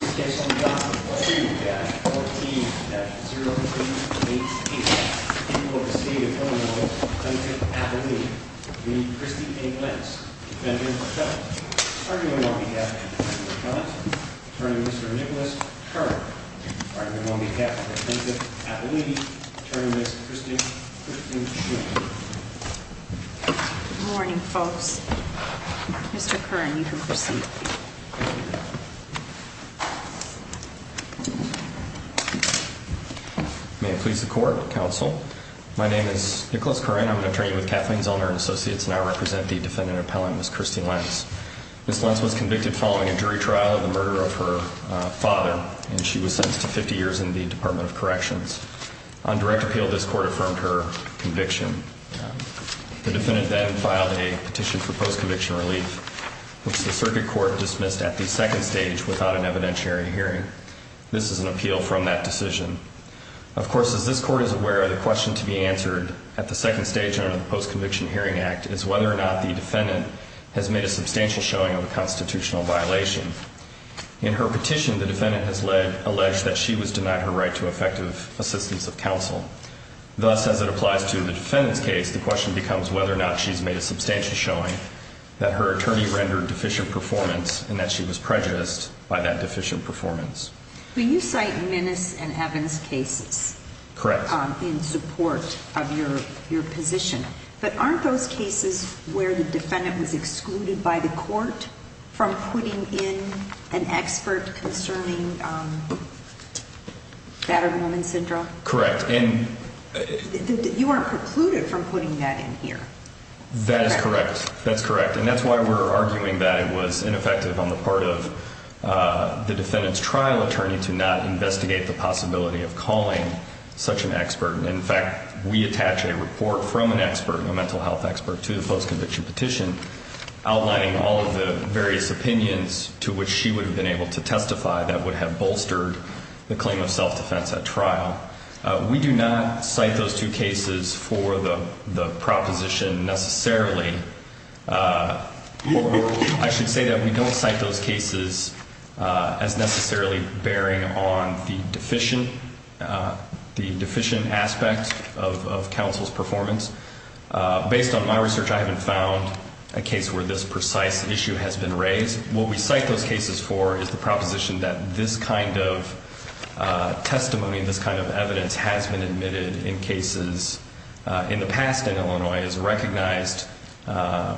In this case, on the document 42-14-0388, you will receive a preliminary plaintiff appellee, the Christine A. Lentz, defendant or defendant. Arguing on behalf of the defendant or defendant, Attorney Mr. Nicholas Curran. Arguing on behalf of the plaintiff appellee, Attorney Ms. Christine Griffin Shuman. Good morning, folks. Mr. Curran, you can proceed. May it please the court, counsel. My name is Nicholas Curran. I'm an attorney with Kathleen Zellner & Associates, and I represent the defendant appellant, Ms. Christine Lentz. Ms. Lentz was convicted following a jury trial of the murder of her father, and she was sentenced to 50 years in the Department of Corrections. On direct appeal, this court affirmed her conviction. The defendant then filed a petition for post-conviction relief, which the circuit court dismissed at the second stage without an evidentiary hearing. This is an appeal from that decision. Of course, as this court is aware, the question to be answered at the second stage under the Post-Conviction Hearing Act is whether or not the defendant has made a substantial showing of a constitutional violation. In her petition, the defendant has alleged that she was denied her right to effective assistance of counsel. Thus, as it applies to the defendant's case, the question becomes whether or not she's made a substantial showing that her attorney rendered deficient performance and that she was prejudiced by that deficient performance. But you cite Minnis and Evans cases. Correct. In support of your position. But aren't those cases where the defendant was excluded by the court from putting in an expert concerning battered woman syndrome? Correct. And you weren't precluded from putting that in here. That is correct. That's correct. And that's why we're arguing that it was ineffective on the part of the defendant's trial attorney to not investigate the possibility of calling such an expert. And, in fact, we attach a report from an expert, a mental health expert, to the post-conviction petition outlining all of the various opinions to which she would have been able to testify that would have bolstered the claim of self-defense at trial. We do not cite those two cases for the proposition necessarily. I should say that we don't cite those cases as necessarily bearing on the deficient aspect of counsel's performance. Based on my research, I haven't found a case where this precise issue has been raised. What we cite those cases for is the proposition that this kind of testimony, this kind of evidence, has been admitted in cases in the past in Illinois as a recognized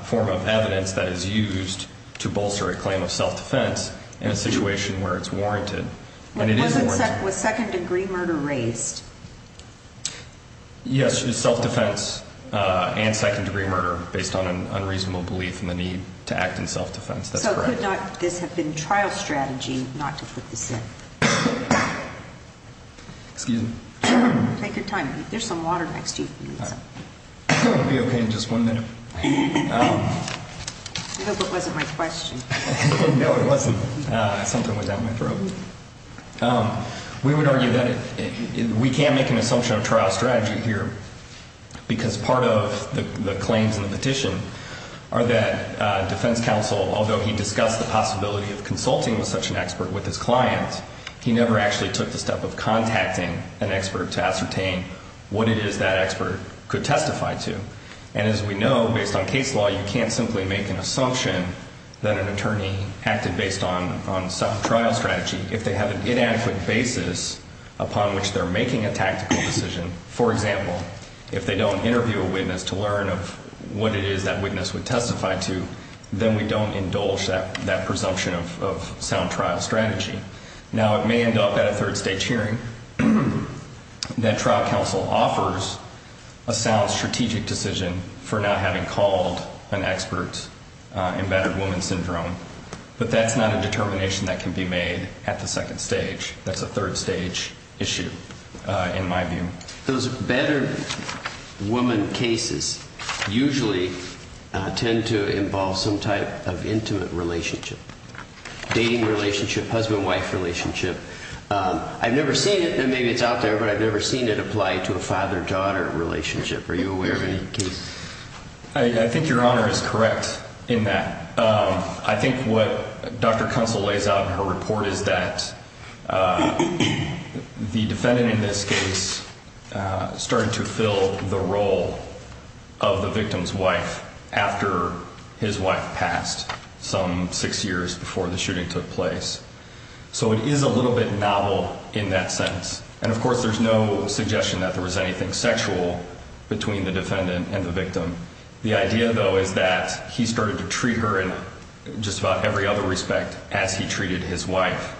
form of evidence that is used to bolster a claim of self-defense in a situation where it's warranted. Was second-degree murder raised? Yes, self-defense and second-degree murder based on an unreasonable belief in the need to act in self-defense. That's correct. Would this have been trial strategy not to put this in? Excuse me? Take your time. There's some water next to you. I'll be okay in just one minute. I hope it wasn't my question. No, it wasn't. Something was out of my throat. We would argue that we can't make an assumption of trial strategy here because part of the claims in the petition are that defense counsel, although he discussed the possibility of consulting with such an expert with his client, he never actually took the step of contacting an expert to ascertain what it is that expert could testify to. And as we know, based on case law, you can't simply make an assumption that an attorney acted based on some trial strategy. If they have an inadequate basis upon which they're making a tactical decision, for example, if they don't interview a witness to learn of what it is that witness would testify to, then we don't indulge that presumption of sound trial strategy. Now, it may end up at a third-stage hearing that trial counsel offers a sound strategic decision for not having called an expert in battered woman syndrome, but that's not a determination that can be made at the second stage. That's a third-stage issue, in my view. Those battered woman cases usually tend to involve some type of intimate relationship, dating relationship, husband-wife relationship. I've never seen it, and maybe it's out there, but I've never seen it apply to a father-daughter relationship. Are you aware of any case? I think Your Honor is correct in that. I think what Dr. Kunstle lays out in her report is that the defendant in this case started to fill the role of the victim's wife after his wife passed some six years before the shooting took place. So it is a little bit novel in that sense, and of course there's no suggestion that there was anything sexual between the defendant and the victim. The idea, though, is that he started to treat her in just about every other respect as he treated his wife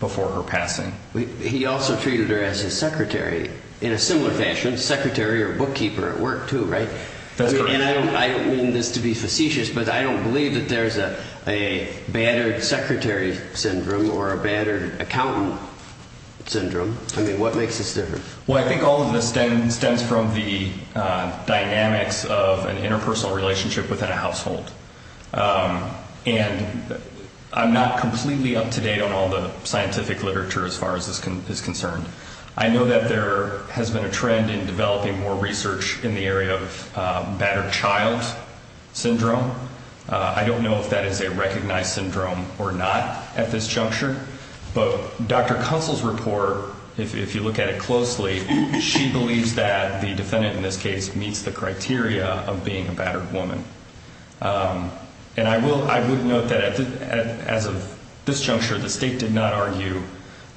before her passing. He also treated her as his secretary in a similar fashion, secretary or bookkeeper at work, too, right? That's correct. And I don't mean this to be facetious, but I don't believe that there's a battered secretary syndrome or a battered accountant syndrome. I mean, what makes this different? Well, I think all of this stems from the dynamics of an interpersonal relationship within a household. And I'm not completely up to date on all the scientific literature as far as this is concerned. I know that there has been a trend in developing more research in the area of battered child syndrome. I don't know if that is a recognized syndrome or not at this juncture, but Dr. Kunstle's report, if you look at it closely, she believes that the defendant in this case meets the criteria of being a battered woman. And I would note that as of this juncture, the state did not argue,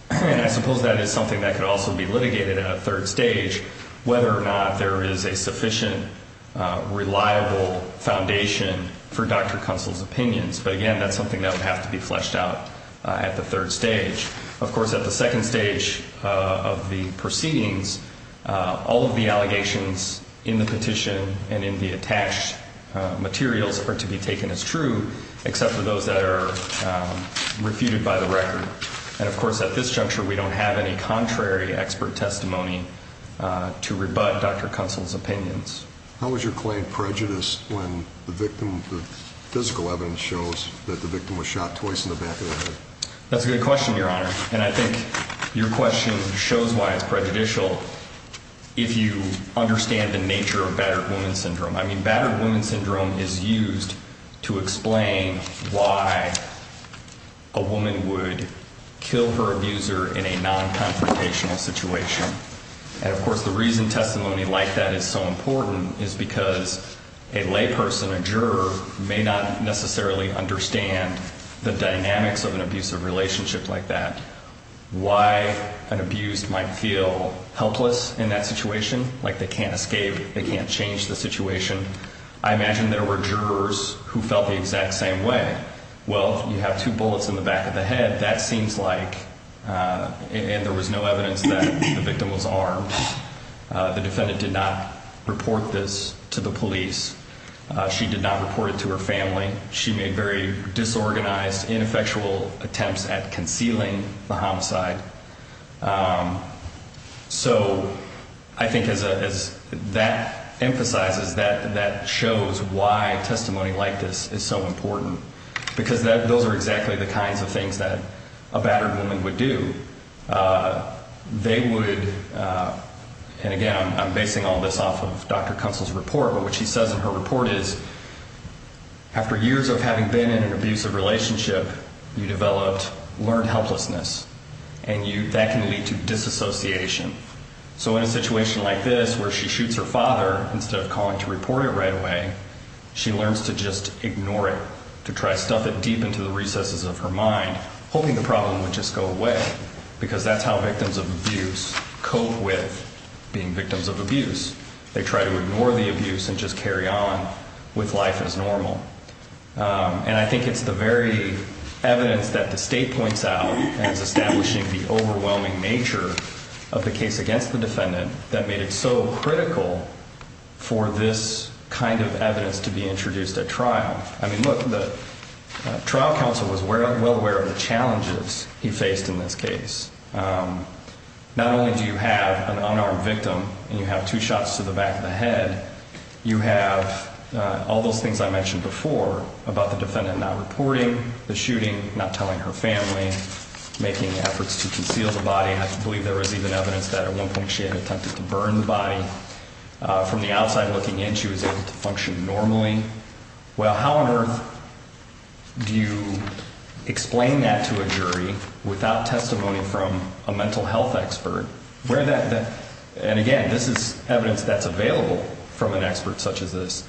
and I suppose that is something that could also be litigated at a third stage, whether or not there is a sufficient, reliable foundation for Dr. Kunstle's opinions. But again, that's something that would have to be fleshed out at the third stage. Of course, at the second stage of the proceedings, all of the allegations in the petition and in the attached materials are to be taken as true, except for those that are refuted by the record. And of course, at this juncture, we don't have any contrary expert testimony to rebut Dr. Kunstle's opinions. How was your claim prejudiced when the physical evidence shows that the victim was shot twice in the back of the head? That's a good question, Your Honor, and I think your question shows why it's prejudicial if you understand the nature of battered woman syndrome. I mean, battered woman syndrome is used to explain why a woman would kill her abuser in a non-confrontational situation. And of course, the reason testimony like that is so important is because a layperson, a juror, may not necessarily understand the dynamics of an abusive relationship like that, why an abused might feel helpless in that situation, like they can't escape, they can't change the situation. I imagine there were jurors who felt the exact same way. Well, you have two bullets in the back of the head, that seems like, and there was no evidence that the victim was armed. The defendant did not report this to the police. She did not report it to her family. She made very disorganized, ineffectual attempts at concealing the homicide. So I think as that emphasizes, that shows why testimony like this is so important because those are exactly the kinds of things that a battered woman would do. They would, and again, I'm basing all this off of Dr. Kunstel's report, but what she says in her report is, after years of having been in an abusive relationship, you developed learned helplessness, and that can lead to disassociation. So in a situation like this where she shoots her father instead of calling to report it right away, she learns to just ignore it, to try to stuff it deep into the recesses of her mind, hoping the problem would just go away because that's how victims of abuse cope with being victims of abuse. They try to ignore the abuse and just carry on with life as normal. And I think it's the very evidence that the state points out as establishing the overwhelming nature of the case against the defendant that made it so critical for this kind of evidence to be introduced at trial. I mean, look, the trial counsel was well aware of the challenges he faced in this case. Not only do you have an unarmed victim and you have two shots to the back of the head, you have all those things I mentioned before about the defendant not reporting, the shooting, not telling her family, making efforts to conceal the body. I believe there was even evidence that at one point she had attempted to burn the body. From the outside looking in, she was able to function normally. Well, how on earth do you explain that to a jury without testimony from a mental health expert? And again, this is evidence that's available from an expert such as this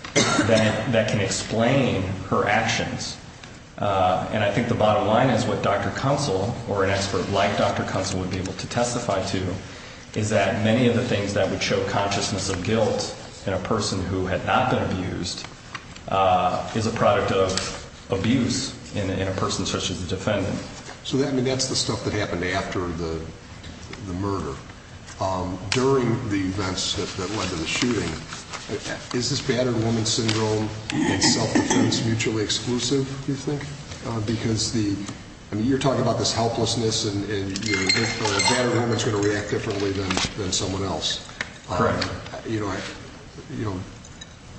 that can explain her actions. And I think the bottom line is what Dr. Kunzel or an expert like Dr. Kunzel would be able to testify to is that many of the things that would show consciousness of guilt in a person who had not been abused is a product of abuse in a person such as the defendant. So that's the stuff that happened after the murder. During the events that led to the shooting, is this battered woman syndrome and self-defense mutually exclusive, you think? Because you're talking about this helplessness and a battered woman is going to react differently than someone else. Correct.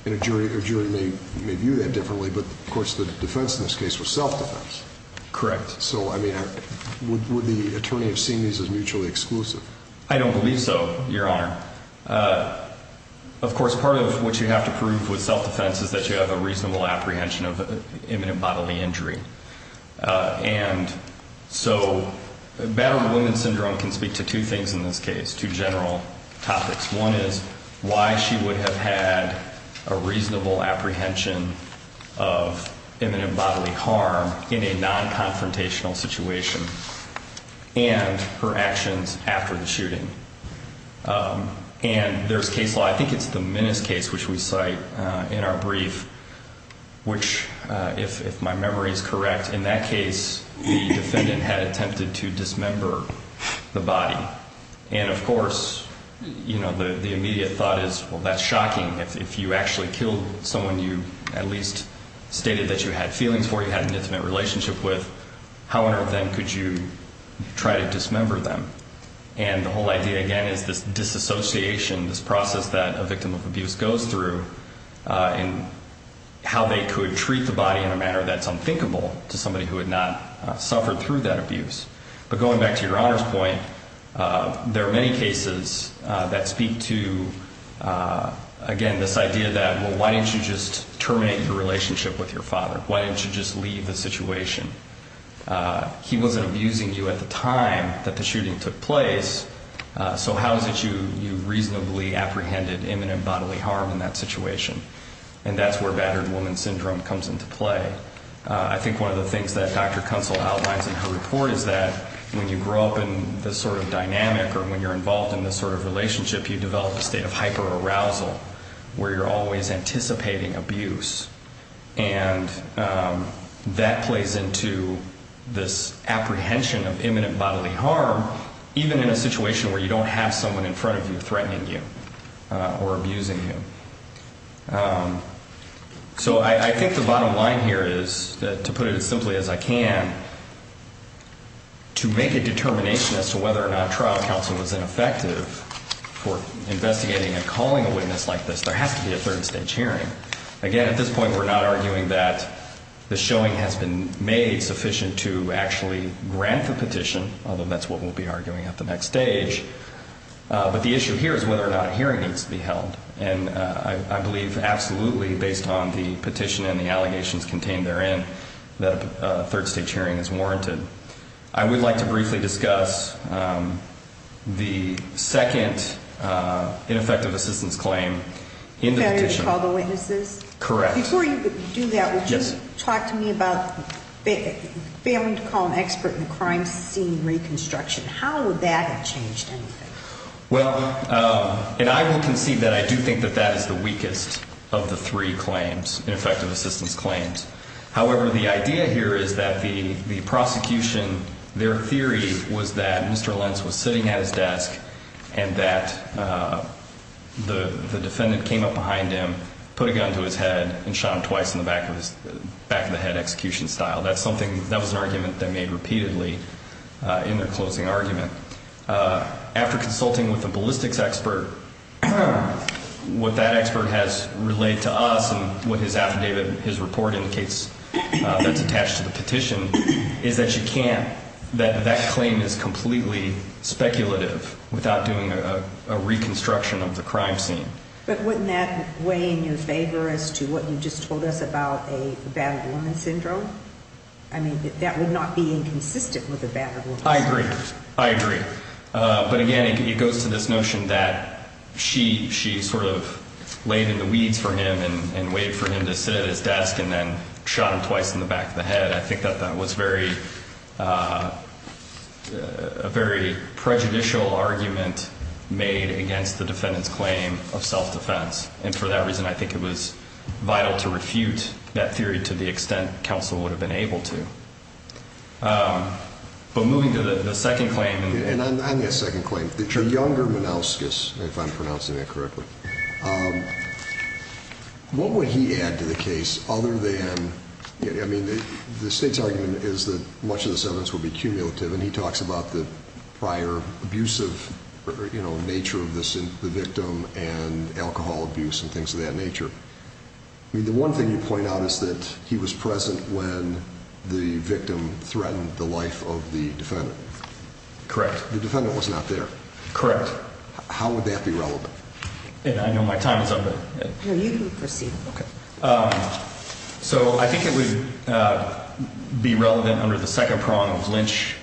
And a jury may view that differently, but of course the defense in this case was self-defense. Correct. So would the attorney have seen these as mutually exclusive? I don't believe so, Your Honor. Of course, part of what you have to prove with self-defense is that you have a reasonable apprehension of imminent bodily injury. And so battered woman syndrome can speak to two things in this case, two general topics. One is why she would have had a reasonable apprehension of imminent bodily harm in a non-confrontational situation and her actions after the shooting. And there's case law, I think it's the Minnis case which we cite in our brief, which if my memory is correct, in that case the defendant had attempted to dismember the body. And of course, you know, the immediate thought is, well, that's shocking. If you actually killed someone you at least stated that you had feelings for, you had an intimate relationship with, how on earth then could you try to dismember them? And the whole idea, again, is this disassociation, this process that a victim of abuse goes through and how they could treat the body in a manner that's unthinkable to somebody who had not suffered through that abuse. But going back to your Honor's point, there are many cases that speak to, again, this idea that, well, why didn't you just terminate your relationship with your father? Why didn't you just leave the situation? He wasn't abusing you at the time that the shooting took place, so how is it you reasonably apprehended imminent bodily harm in that situation? And that's where battered woman syndrome comes into play. I think one of the things that Dr. Kunzel outlines in her report is that when you grow up in this sort of dynamic or when you're involved in this sort of relationship, you develop a state of hyperarousal where you're always anticipating abuse. And that plays into this apprehension of imminent bodily harm, even in a situation where you don't have someone in front of you threatening you or abusing you. So I think the bottom line here is, to put it as simply as I can, to make a determination as to whether or not trial counsel was ineffective for investigating and calling a witness like this, there has to be a third stage hearing. Again, at this point, we're not arguing that the showing has been made sufficient to actually grant the petition, although that's what we'll be arguing at the next stage. But the issue here is whether or not a hearing needs to be held. And I believe absolutely, based on the petition and the allegations contained therein, that a third stage hearing is warranted. I would like to briefly discuss the second ineffective assistance claim in the petition. The failure to call the witnesses? Correct. Before you do that, would you talk to me about failing to call an expert in the crime scene reconstruction? How would that have changed anything? Well, and I will concede that I do think that that is the weakest of the three claims, ineffective assistance claims. However, the idea here is that the prosecution, their theory was that Mr. Lenz was sitting at his desk and that the defendant came up behind him, put a gun to his head, and shot him twice in the back of the head, execution style. That was an argument they made repeatedly in their closing argument. After consulting with a ballistics expert, what that expert has relayed to us, and what his affidavit, his report indicates that's attached to the petition, is that you can't, that that claim is completely speculative without doing a reconstruction of the crime scene. But wouldn't that weigh in your favor as to what you just told us about a battered woman syndrome? I mean, that would not be inconsistent with a battered woman syndrome. I agree. I agree. But again, it goes to this notion that she sort of laid in the weeds for him and waited for him to sit at his desk and then shot him twice in the back of the head. I think that that was a very prejudicial argument made against the defendant's claim of self-defense. And for that reason, I think it was vital to refute that theory to the extent counsel would have been able to. But moving to the second claim. And on that second claim, the younger Manouskis, if I'm pronouncing that correctly, what would he add to the case other than, I mean, the state's argument is that much of this evidence would be cumulative, and he talks about the prior abusive nature of the victim and alcohol abuse and things of that nature. I mean, the one thing you point out is that he was present when the victim threatened the life of the defendant. Correct. The defendant was not there. Correct. How would that be relevant? I know my time is up. No, you can proceed. So I think it would be relevant under the second prong of Lynch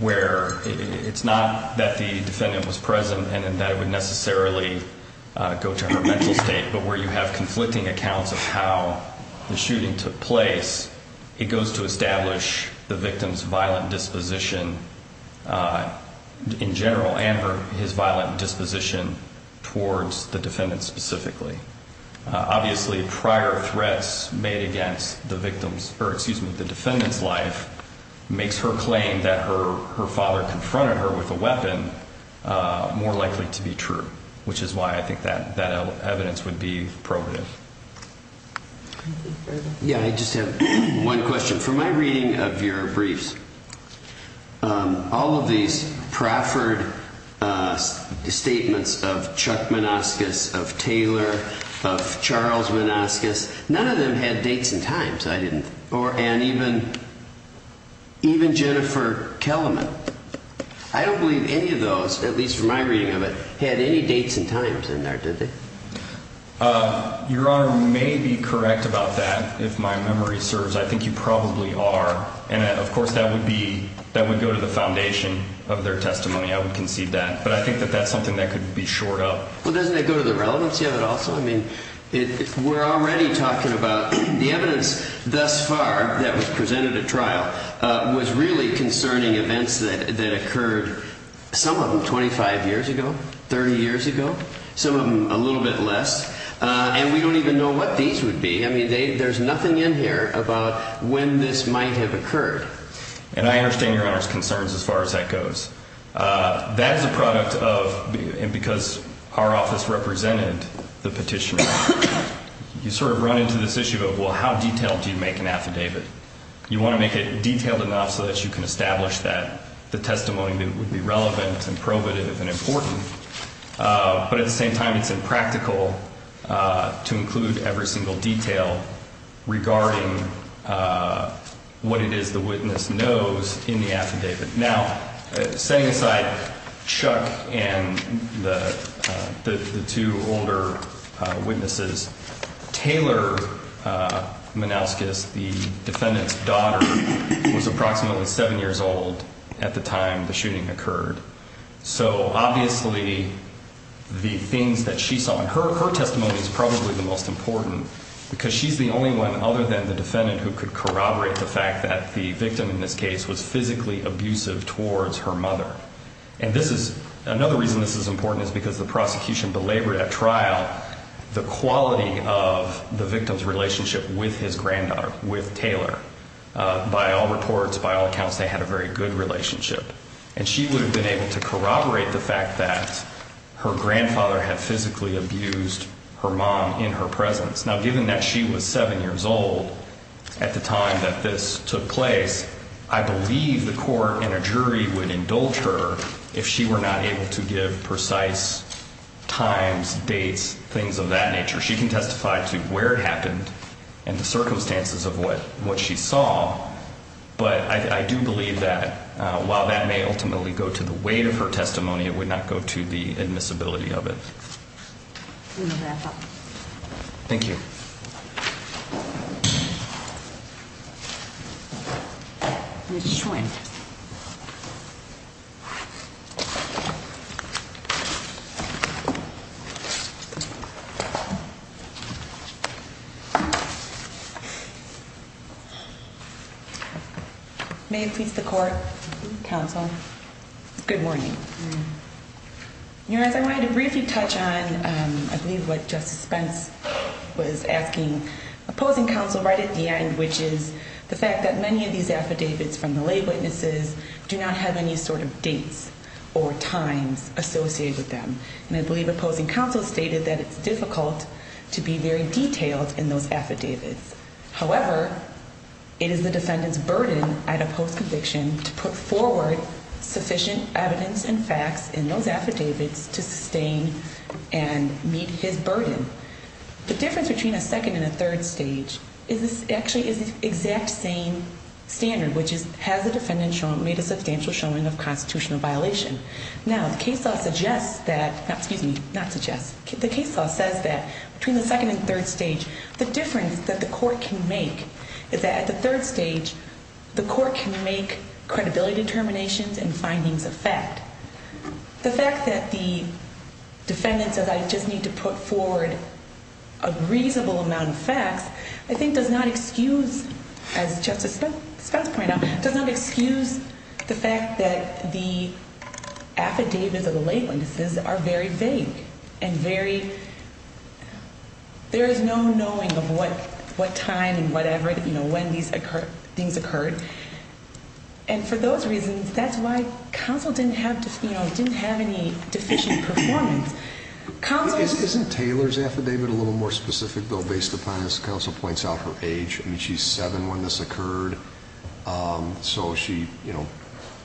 where it's not that the defendant was present and that it would necessarily go to her mental state, but where you have conflicting accounts of how the shooting took place, it goes to establish the victim's violent disposition in general and his violent disposition towards the defendant specifically. Obviously, prior threats made against the defendant's life makes her claim that her father confronted her with a weapon more likely to be true, which is why I think that evidence would be probative. Yeah, I just have one question. From my reading of your briefs, all of these Crawford statements of Chuck Menascus, of Taylor, of Charles Menascus, none of them had dates and times. I didn't. And even Jennifer Kellerman. I don't believe any of those, at least from my reading of it, had any dates and times in there, did they? Your Honor may be correct about that, if my memory serves. I think you probably are. And, of course, that would go to the foundation of their testimony. I would concede that. But I think that that's something that could be shored up. Well, doesn't it go to the relevance of it also? I mean, we're already talking about the evidence thus far that was presented at trial was really concerning events that occurred, some of them 25 years ago, 30 years ago, some of them a little bit less. And we don't even know what these would be. I mean, there's nothing in here about when this might have occurred. And I understand Your Honor's concerns as far as that goes. That is a product of, and because our office represented the petitioner, you sort of run into this issue of, well, how detailed do you make an affidavit? You want to make it detailed enough so that you can establish that the testimony would be relevant and probative and important. But at the same time, it's impractical to include every single detail regarding what it is the witness knows in the affidavit. Now, setting aside Chuck and the two older witnesses, Taylor Manouskas, the defendant's daughter, was approximately 7 years old at the time the shooting occurred. So obviously the things that she saw, and her testimony is probably the most important because she's the only one other than the defendant who could corroborate the fact that the victim in this case was physically abusive towards her mother. And this is, another reason this is important is because the prosecution belabored at trial the quality of the victim's relationship with his granddaughter, with Taylor. By all reports, by all accounts, they had a very good relationship. And she would have been able to corroborate the fact that her grandfather had physically abused her mom in her presence. Now, given that she was 7 years old at the time that this took place, I believe the court and a jury would indulge her if she were not able to give precise times, dates, things of that nature. She can testify to where it happened and the circumstances of what she saw. But I do believe that while that may ultimately go to the weight of her testimony, it would not go to the admissibility of it. Thank you. May it please the court, counsel. Good morning. Your Honor, I wanted to briefly touch on, I believe what Justice Spence was asking opposing counsel right at the end, which is the fact that many of these affidavits from the lay witnesses do not have any sort of dates or times associated with them. And I believe opposing counsel stated that it's difficult to be very detailed in those affidavits. However, it is the defendant's burden at a post-conviction to put forward sufficient evidence and facts in those affidavits to sustain and meet his burden. The difference between a second and a third stage is this actually is the exact same standard, which is has the defendant made a substantial showing of constitutional violation. Now, the case law suggests that, excuse me, not suggests, the case law says that between the second and third stage, the difference that the court can make is that at the third stage, the court can make credibility determinations and findings of fact. The fact that the defendant says, I just need to put forward a reasonable amount of facts, I think does not excuse, as Justice Spence pointed out, does not excuse the fact that the affidavits of the lay witnesses are very vague and very, there is no knowing of what time and whatever, you know, when these things occurred. And for those reasons, that's why counsel didn't have, you know, didn't have any deficient performance. Counsel... Isn't Taylor's affidavit a little more specific, though, based upon, as counsel points out, her age? I mean, she's seven when this occurred, so she, you know,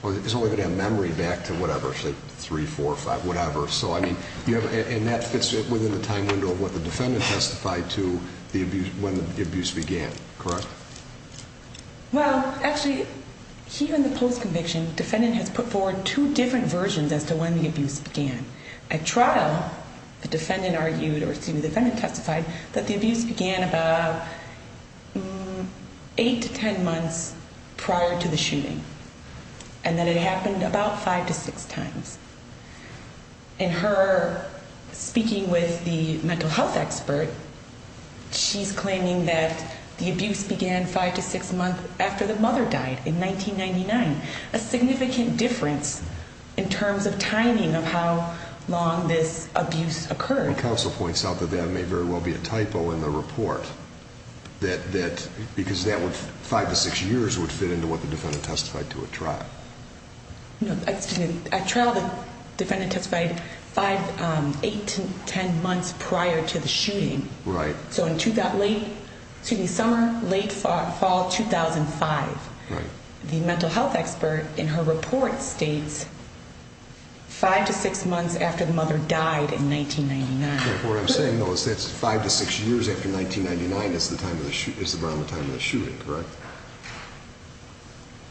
is only going to have memory back to whatever, say, three, four, five, whatever. So, I mean, you have, and that fits within the time window of what the defendant testified to the abuse, when the abuse began, correct? Well, actually, here in the post-conviction, defendant has put forward two different versions as to when the abuse began. At trial, the defendant argued, or excuse me, the defendant testified that the abuse began about eight to ten months prior to the shooting, and that it happened about five to six times. In her speaking with the mental health expert, she's claiming that the abuse began five to six months after the mother died in 1999, a significant difference in terms of timing of how long this abuse occurred. Counsel points out that that may very well be a typo in the report, that, because that would, five to six years would fit into what the defendant testified to at trial. No, excuse me, at trial, the defendant testified five, eight to ten months prior to the shooting. Right. So in late, excuse me, summer, late fall 2005. Right. The mental health expert in her report states five to six months after the mother died in 1999. What I'm saying, though, is that's five to six years after 1999 is the time of the, is around the time of the shooting, correct?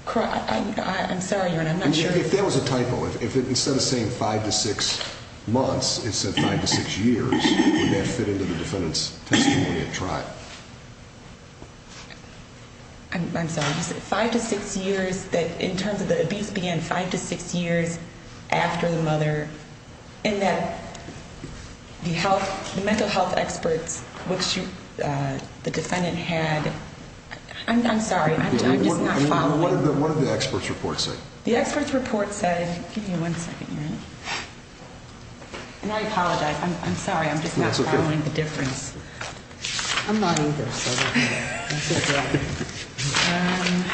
Correct. I'm sorry, Your Honor, I'm not sure. If that was a typo, if instead of saying five to six months, it said five to six years, would that fit into the defendant's testimony at trial? I'm sorry. Five to six years that, in terms of the abuse, began five to six years after the mother, and that the health, the mental health experts, which the defendant had, I'm sorry, I'm just not following. What did the expert's report say? The expert's report said, give me one second, Your Honor, and I apologize, I'm sorry, I'm just not following the difference. That's okay. I'm not either, so that's okay.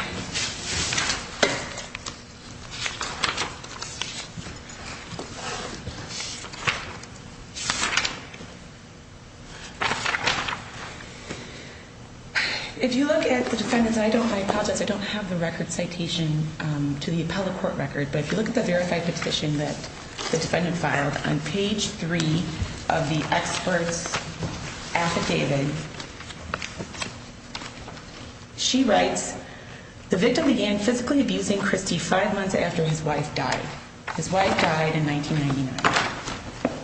If you look at the defendant's, I don't, I apologize, I don't have the record citation to the appellate court record, but if you look at the verified petition that the defendant filed, on page three of the expert's affidavit, she writes, the victim began physically abusing Christy five months after his wife died. His wife died in 1999.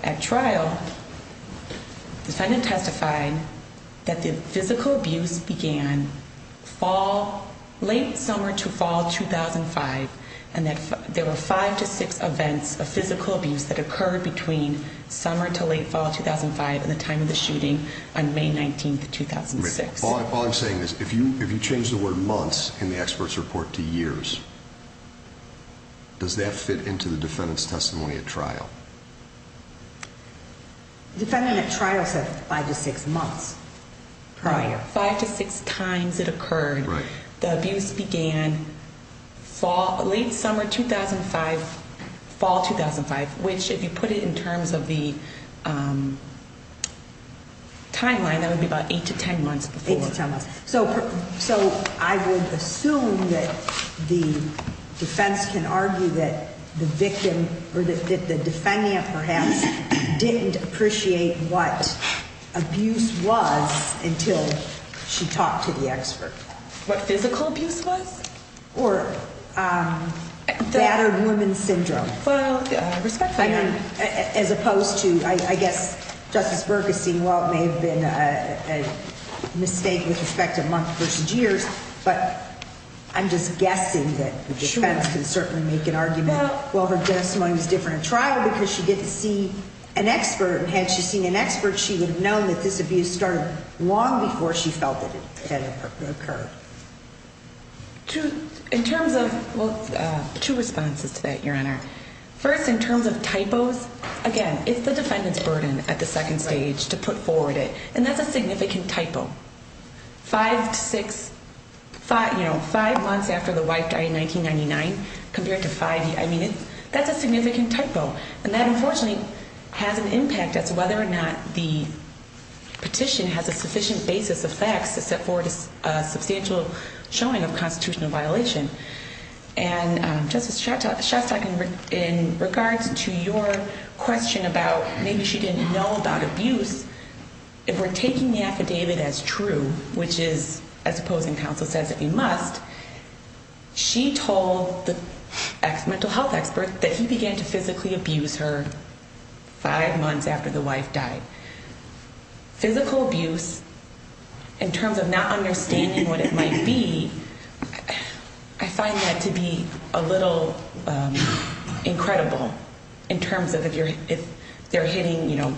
At trial, the defendant testified that the physical abuse began fall, late summer to fall 2005, and that there were five to six events of physical abuse that occurred between summer to late fall 2005 and the time of the shooting on May 19th, 2006. All I'm saying is if you change the word months in the expert's report to years, does that fit into the defendant's testimony at trial? The defendant at trial said five to six months prior. Five to six times it occurred. Right. So I would assume that the defense can argue that the victim or that the defendant perhaps didn't appreciate what abuse was until she talked to the expert. What physical abuse was? Or battered woman syndrome. Well, respectfully. As opposed to, I guess, Justice Berguson, while it may have been a mistake with respect to months versus years, but I'm just guessing that the defense can certainly make an argument. Well, her testimony was different at trial because she didn't see an expert. And had she seen an expert, she would have known that this abuse started long before she felt that it had occurred. In terms of, well, two responses to that, Your Honor. First, in terms of typos, again, it's the defendant's burden at the second stage to put forward it. And that's a significant typo. Five to six, you know, five months after the wife died in 1999 compared to five years. I mean, that's a significant typo. And that unfortunately has an impact as to whether or not the petition has a sufficient basis of facts to set forward a substantial showing of constitutional violation. And Justice Shostak, in regards to your question about maybe she didn't know about abuse, if we're taking the affidavit as true, which is as opposing counsel says that we must, she told the mental health expert that he began to physically abuse her five months after the wife died. Physical abuse, in terms of not understanding what it might be, I find that to be a little incredible. In terms of if they're hitting, you know,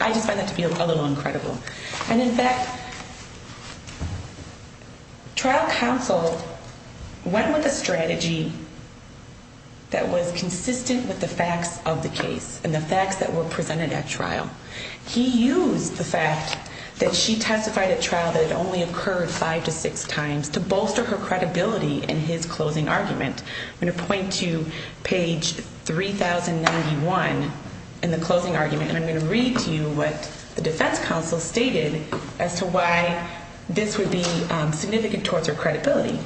I just find that to be a little incredible. And in fact, trial counsel went with a strategy that was consistent with the facts of the case and the facts that were presented at trial. He used the fact that she testified at trial that it only occurred five to six times to bolster her credibility in his closing argument. I'm going to point to page 3091 in the closing argument, and I'm going to read to you what the defense counsel stated as to why this would be significant towards her credibility.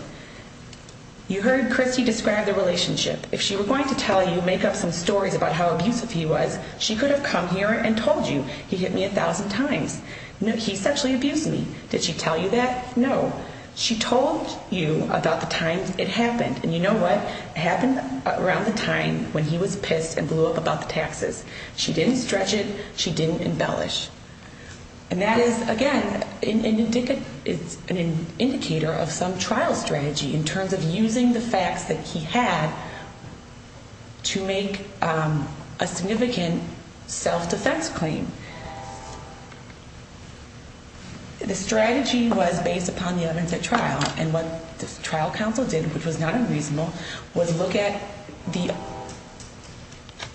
You heard Christy describe the relationship. If she were going to tell you, make up some stories about how abusive he was, she could have come here and told you, he hit me a thousand times. He sexually abused me. Did she tell you that? No. She told you about the time it happened. And you know what? It happened around the time when he was pissed and blew up about the taxes. She didn't stretch it. She didn't embellish. And that is, again, an indicator of some trial strategy in terms of using the facts that he had to make a significant self-defense claim. The strategy was based upon the evidence at trial, and what the trial counsel did, which was not unreasonable, was look at the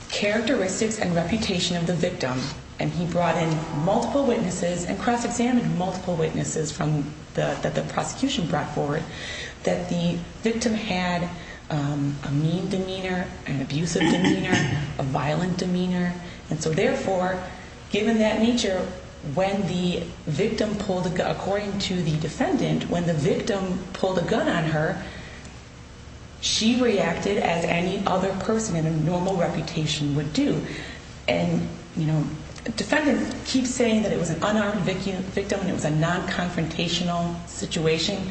characteristics and reputation of the victim. And he brought in multiple witnesses and cross-examined multiple witnesses that the prosecution brought forward that the victim had a mean demeanor, an abusive demeanor, a violent demeanor. And so, therefore, given that nature, when the victim pulled a – according to the defendant, when the victim pulled a gun on her, she reacted as any other person in a normal reputation would do. And, you know, the defendant keeps saying that it was an unarmed victim and it was a non-confrontational situation.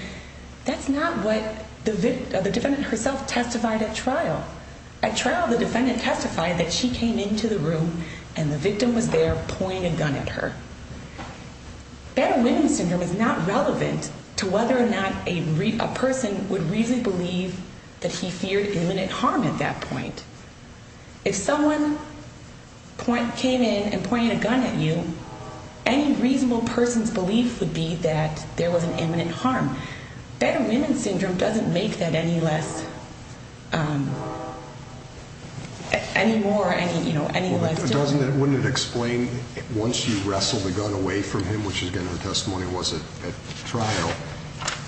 That's not what the defendant herself testified at trial. At trial, the defendant testified that she came into the room and the victim was there pointing a gun at her. Battle-winning syndrome is not relevant to whether or not a person would reasonably believe that he feared imminent harm at that point. If someone came in and pointed a gun at you, any reasonable person's belief would be that there was an imminent harm. Battle-winning syndrome doesn't make that any less – any more, you know, any less – But doesn't that – wouldn't it explain, once you wrestled the gun away from him, which, again, her testimony was at trial,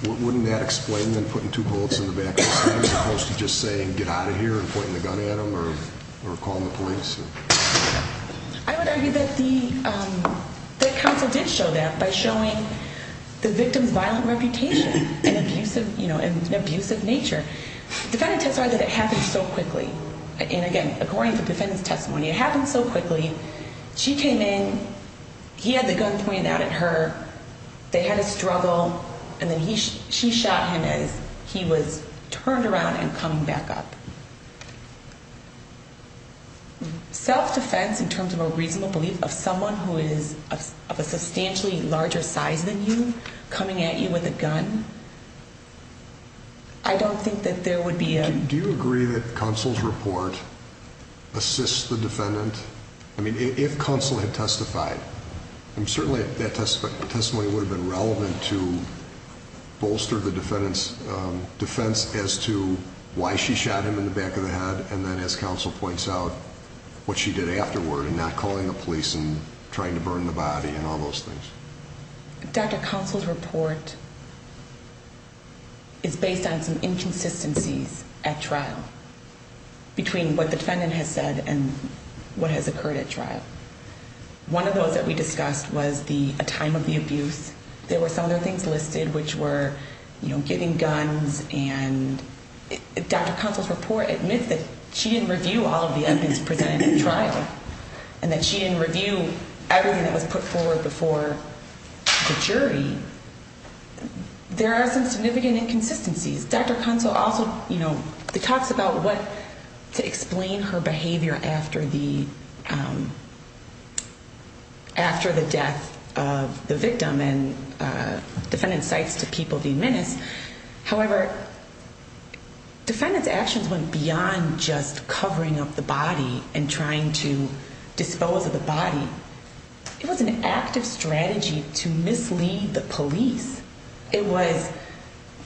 wouldn't that explain them putting two bullets in the back of his head as opposed to just saying, get out of here and pointing the gun at him or calling the police? I would argue that the – that counsel did show that by showing the victim's violent reputation and abusive, you know, and abusive nature. The defendant testified that it happened so quickly. And, again, according to the defendant's testimony, it happened so quickly. She came in, he had the gun pointed out at her, they had a struggle, and then he – she shot him as he was turned around and coming back up. Self-defense in terms of a reasonable belief of someone who is of a substantially larger size than you coming at you with a gun, I don't think that there would be a – I mean, if counsel had testified, certainly that testimony would have been relevant to bolster the defendant's defense as to why she shot him in the back of the head, and then, as counsel points out, what she did afterward in not calling the police and trying to burn the body and all those things. Dr. Consol's report is based on some inconsistencies at trial between what the defendant has said and what has occurred at trial. One of those that we discussed was the – a time of the abuse. There were some other things listed, which were, you know, getting guns and – Dr. Consol's report admits that she didn't review all of the evidence presented at trial and that she didn't review everything that was put forward before the jury. There are some significant inconsistencies. Dr. Consol also, you know, talks about what – to explain her behavior after the – after the death of the victim, and defendant cites to people the menace. However, defendant's actions went beyond just covering up the body and trying to dispose of the body. It was an active strategy to mislead the police. It was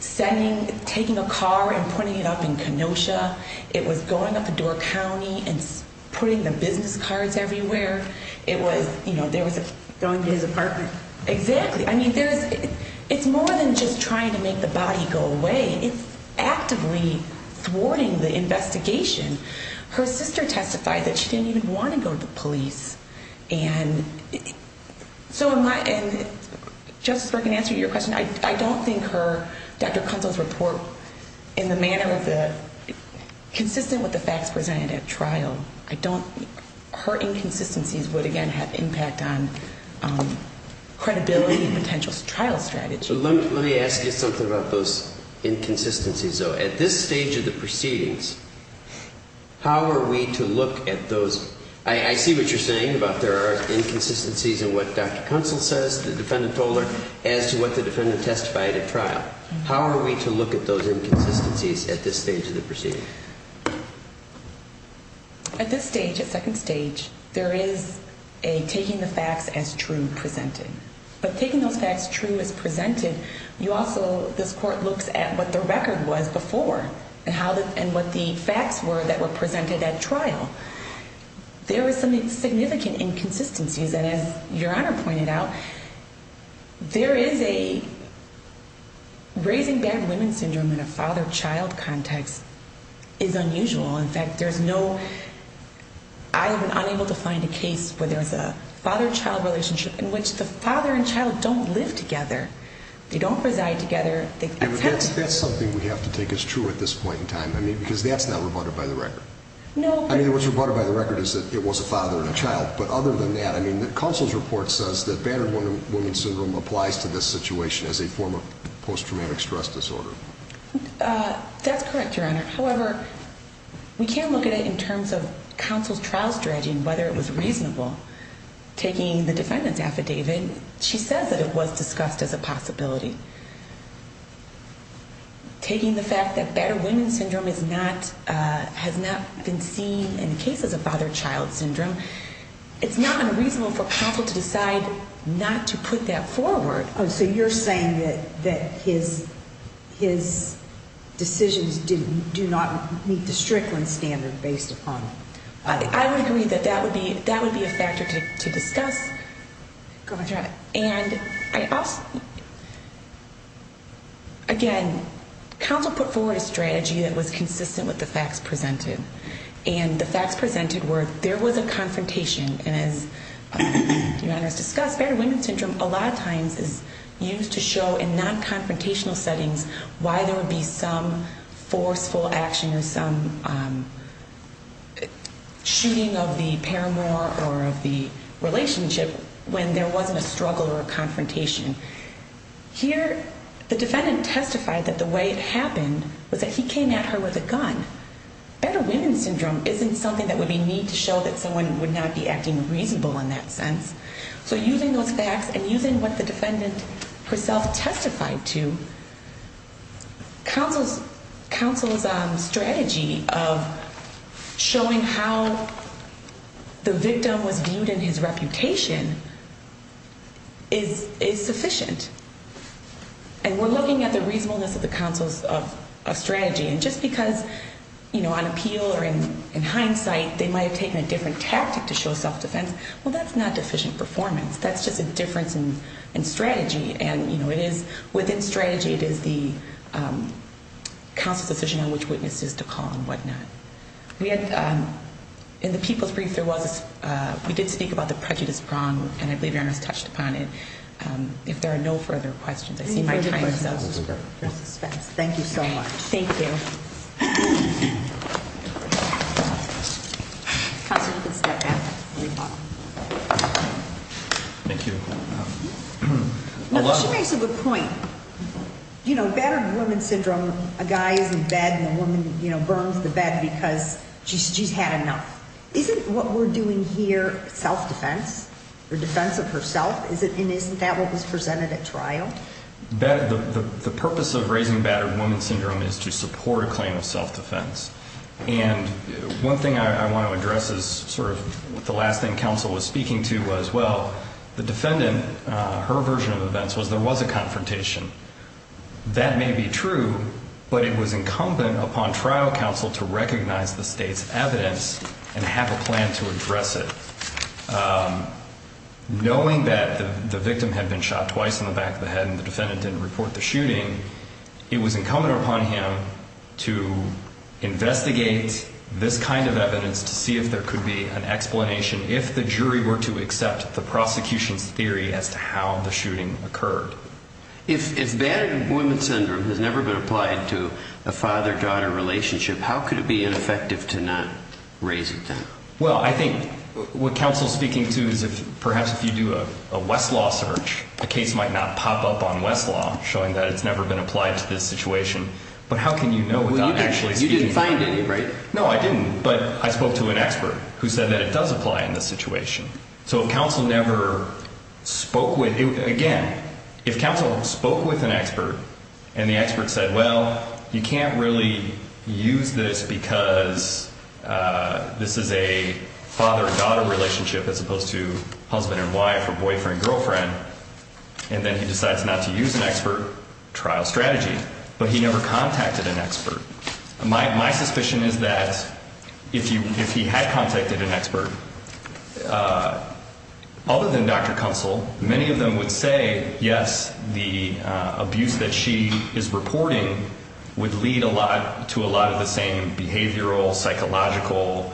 sending – taking a car and putting it up in Kenosha. It was going up in Door County and putting the business cards everywhere. It was, you know, there was a – Going to his apartment. Exactly. I mean, there's – it's more than just trying to make the body go away. It's actively thwarting the investigation. Her sister testified that she didn't even want to go to the police. And so am I – and Justice Berk, in answer to your question, I don't think her – Dr. Consol's report in the manner of the – consistent with the facts presented at trial. I don't – her inconsistencies would, again, have impact on credibility and potential trial strategy. Let me ask you something about those inconsistencies, though. At this stage of the proceedings, how are we to look at those – I see what you're saying about there are inconsistencies in what Dr. Consol says, the defendant told her, as to what the defendant testified at trial. How are we to look at those inconsistencies at this stage of the proceeding? At this stage, at second stage, there is a taking the facts as true presented. But taking those facts true as presented, you also – this court looks at what the record was before and how the – and what the facts were that were presented at trial. There were some significant inconsistencies. And as Your Honor pointed out, there is a – raising bad women syndrome in a father-child context is unusual. In fact, there's no – I have been unable to find a case where there's a father-child relationship in which the father and child don't live together. They don't reside together. That's something we have to take as true at this point in time. I mean, because that's not rebutted by the record. No. I mean, what's rebutted by the record is that it was a father and a child. But other than that, I mean, Consol's report says that bad women syndrome applies to this situation as a form of post-traumatic stress disorder. That's correct, Your Honor. However, we can look at it in terms of Consol's trial strategy and whether it was reasonable. Taking the defendant's affidavit, she says that it was discussed as a possibility. Taking the fact that bad women syndrome is not – has not been seen in cases of father-child syndrome, it's not unreasonable for Consol to decide not to put that forward. So you're saying that his decisions do not meet the Strickland standard based upon – I would agree that that would be a factor to discuss. Go ahead, Your Honor. And I also – again, Consol put forward a strategy that was consistent with the facts presented. And the facts presented were there was a confrontation, and as Your Honor has discussed, bad women syndrome a lot of times is used to show in non-confrontational settings why there would be some forceful action or some shooting of the paramour or of the relationship when there wasn't a struggle or a confrontation. Here, the defendant testified that the way it happened was that he came at her with a gun. Bad women syndrome isn't something that would be mean to show that someone would not be acting reasonable in that sense. So using those facts and using what the defendant herself testified to, Consol's strategy of showing how the victim was viewed in his reputation is sufficient. And we're looking at the reasonableness of Consol's strategy. And just because on appeal or in hindsight they might have taken a different tactic to show self-defense, well, that's not deficient performance. That's just a difference in strategy. And within strategy, it is the Consol's decision on which witnesses to call and whatnot. In the people's brief, we did speak about the prejudice prong, and I believe Your Honor has touched upon it. If there are no further questions, I see my time is up. Thank you so much. Thank you. Consol, you can step down. Thank you. She makes a good point. You know, battered woman syndrome, a guy is in bed and a woman burns the bed because she's had enough. Isn't what we're doing here self-defense or defense of herself, and isn't that what was presented at trial? The purpose of raising battered woman syndrome is to support a claim of self-defense. And one thing I want to address is sort of the last thing Consol was speaking to as well. The defendant, her version of events was there was a confrontation. That may be true, but it was incumbent upon trial Consol to recognize the state's evidence and have a plan to address it. Knowing that the victim had been shot twice in the back of the head and the defendant didn't report the shooting, it was incumbent upon him to investigate this kind of evidence to see if there could be an explanation, if the jury were to accept the prosecution's theory as to how the shooting occurred. If battered woman syndrome has never been applied to a father-daughter relationship, how could it be ineffective to not raise it then? Well, I think what Consol is speaking to is perhaps if you do a Westlaw search, a case might not pop up on Westlaw showing that it's never been applied to this situation, but how can you know without actually speaking to it? Well, you didn't find any, right? No, I didn't, but I spoke to an expert who said that it does apply in this situation. So if Consol never spoke with – again, if Consol spoke with an expert and the expert said, well, you can't really use this because this is a father-daughter relationship as opposed to husband and wife or boyfriend-girlfriend, and then he decides not to use an expert, trial strategy. But he never contacted an expert. My suspicion is that if you – if he had contacted an expert, other than Dr. Consol, many of them would say, yes, the abuse that she is reporting would lead a lot to a lot of the same behavioral, psychological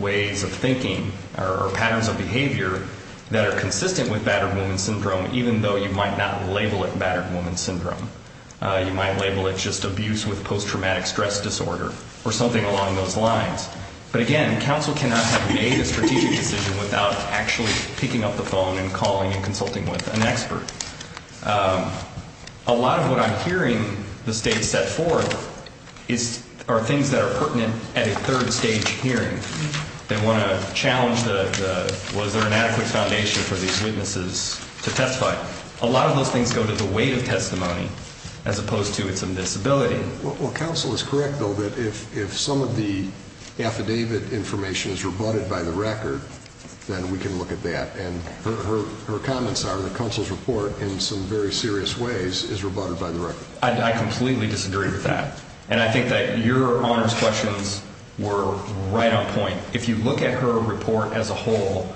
ways of thinking or patterns of behavior that are consistent with battered woman syndrome, even though you might not label it battered woman syndrome. You might label it just abuse with post-traumatic stress disorder or something along those lines. But again, Consol cannot have made a strategic decision without actually picking up the phone and calling and consulting with an expert. A lot of what I'm hearing the State set forth are things that are pertinent at a third-stage hearing. They want to challenge the – was there an adequate foundation for these witnesses to testify? A lot of those things go to the weight of testimony as opposed to its indisability. Well, Consol is correct, though, that if some of the affidavit information is rebutted by the record, then we can look at that. And her comments are that Consol's report, in some very serious ways, is rebutted by the record. I completely disagree with that. And I think that your Honor's questions were right on point. If you look at her report as a whole,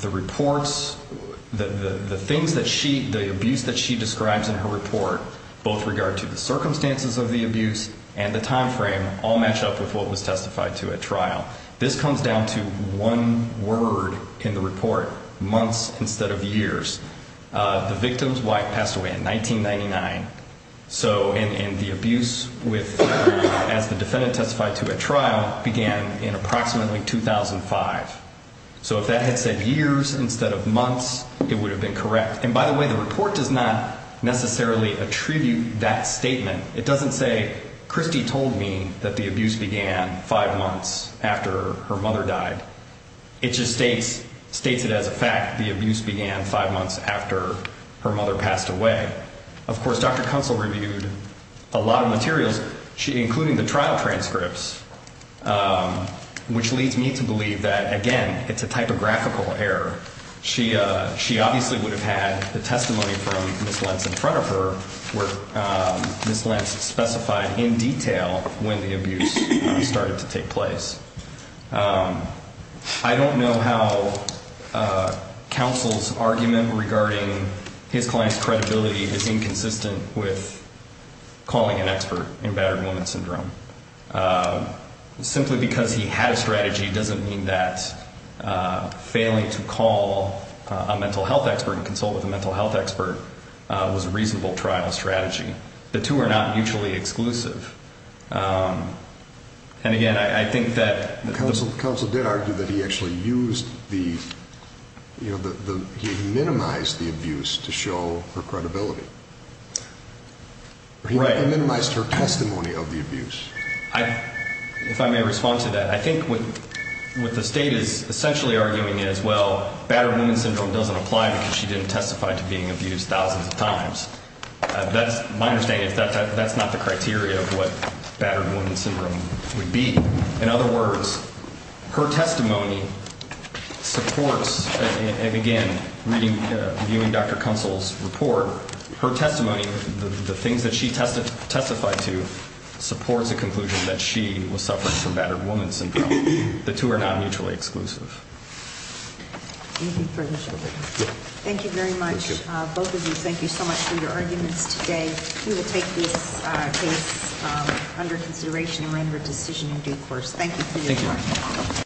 the reports, the things that she – both regard to the circumstances of the abuse and the time frame all match up with what was testified to at trial. This comes down to one word in the report, months instead of years. The victim's wife passed away in 1999. So – and the abuse with – as the defendant testified to at trial began in approximately 2005. So if that had said years instead of months, it would have been correct. And by the way, the report does not necessarily attribute that statement. It doesn't say, Christy told me that the abuse began five months after her mother died. It just states – states it as a fact the abuse began five months after her mother passed away. Of course, Dr. Consol reviewed a lot of materials, including the trial transcripts, which leads me to believe that, again, it's a typographical error. She obviously would have had the testimony from Ms. Lentz in front of her where Ms. Lentz specified in detail when the abuse started to take place. I don't know how Counsel's argument regarding his client's credibility is inconsistent with calling an expert in battered woman syndrome. Simply because he had a strategy doesn't mean that failing to call a mental health expert and consult with a mental health expert was a reasonable trial strategy. The two are not mutually exclusive. And again, I think that – Counsel did argue that he actually used the – he minimized the abuse to show her credibility. Right. He actually minimized her testimony of the abuse. If I may respond to that, I think what the State is essentially arguing is, well, battered woman syndrome doesn't apply because she didn't testify to being abused thousands of times. That's – my understanding is that that's not the criteria of what battered woman syndrome would be. In other words, her testimony supports – and again, reading – viewing Dr. Counsel's report, her testimony, the things that she testified to, supports the conclusion that she was suffering from battered woman syndrome. The two are not mutually exclusive. Thank you very much. Both of you, thank you so much for your arguments today. We will take this case under consideration and render a decision in due course. Thank you for your time. Thank you.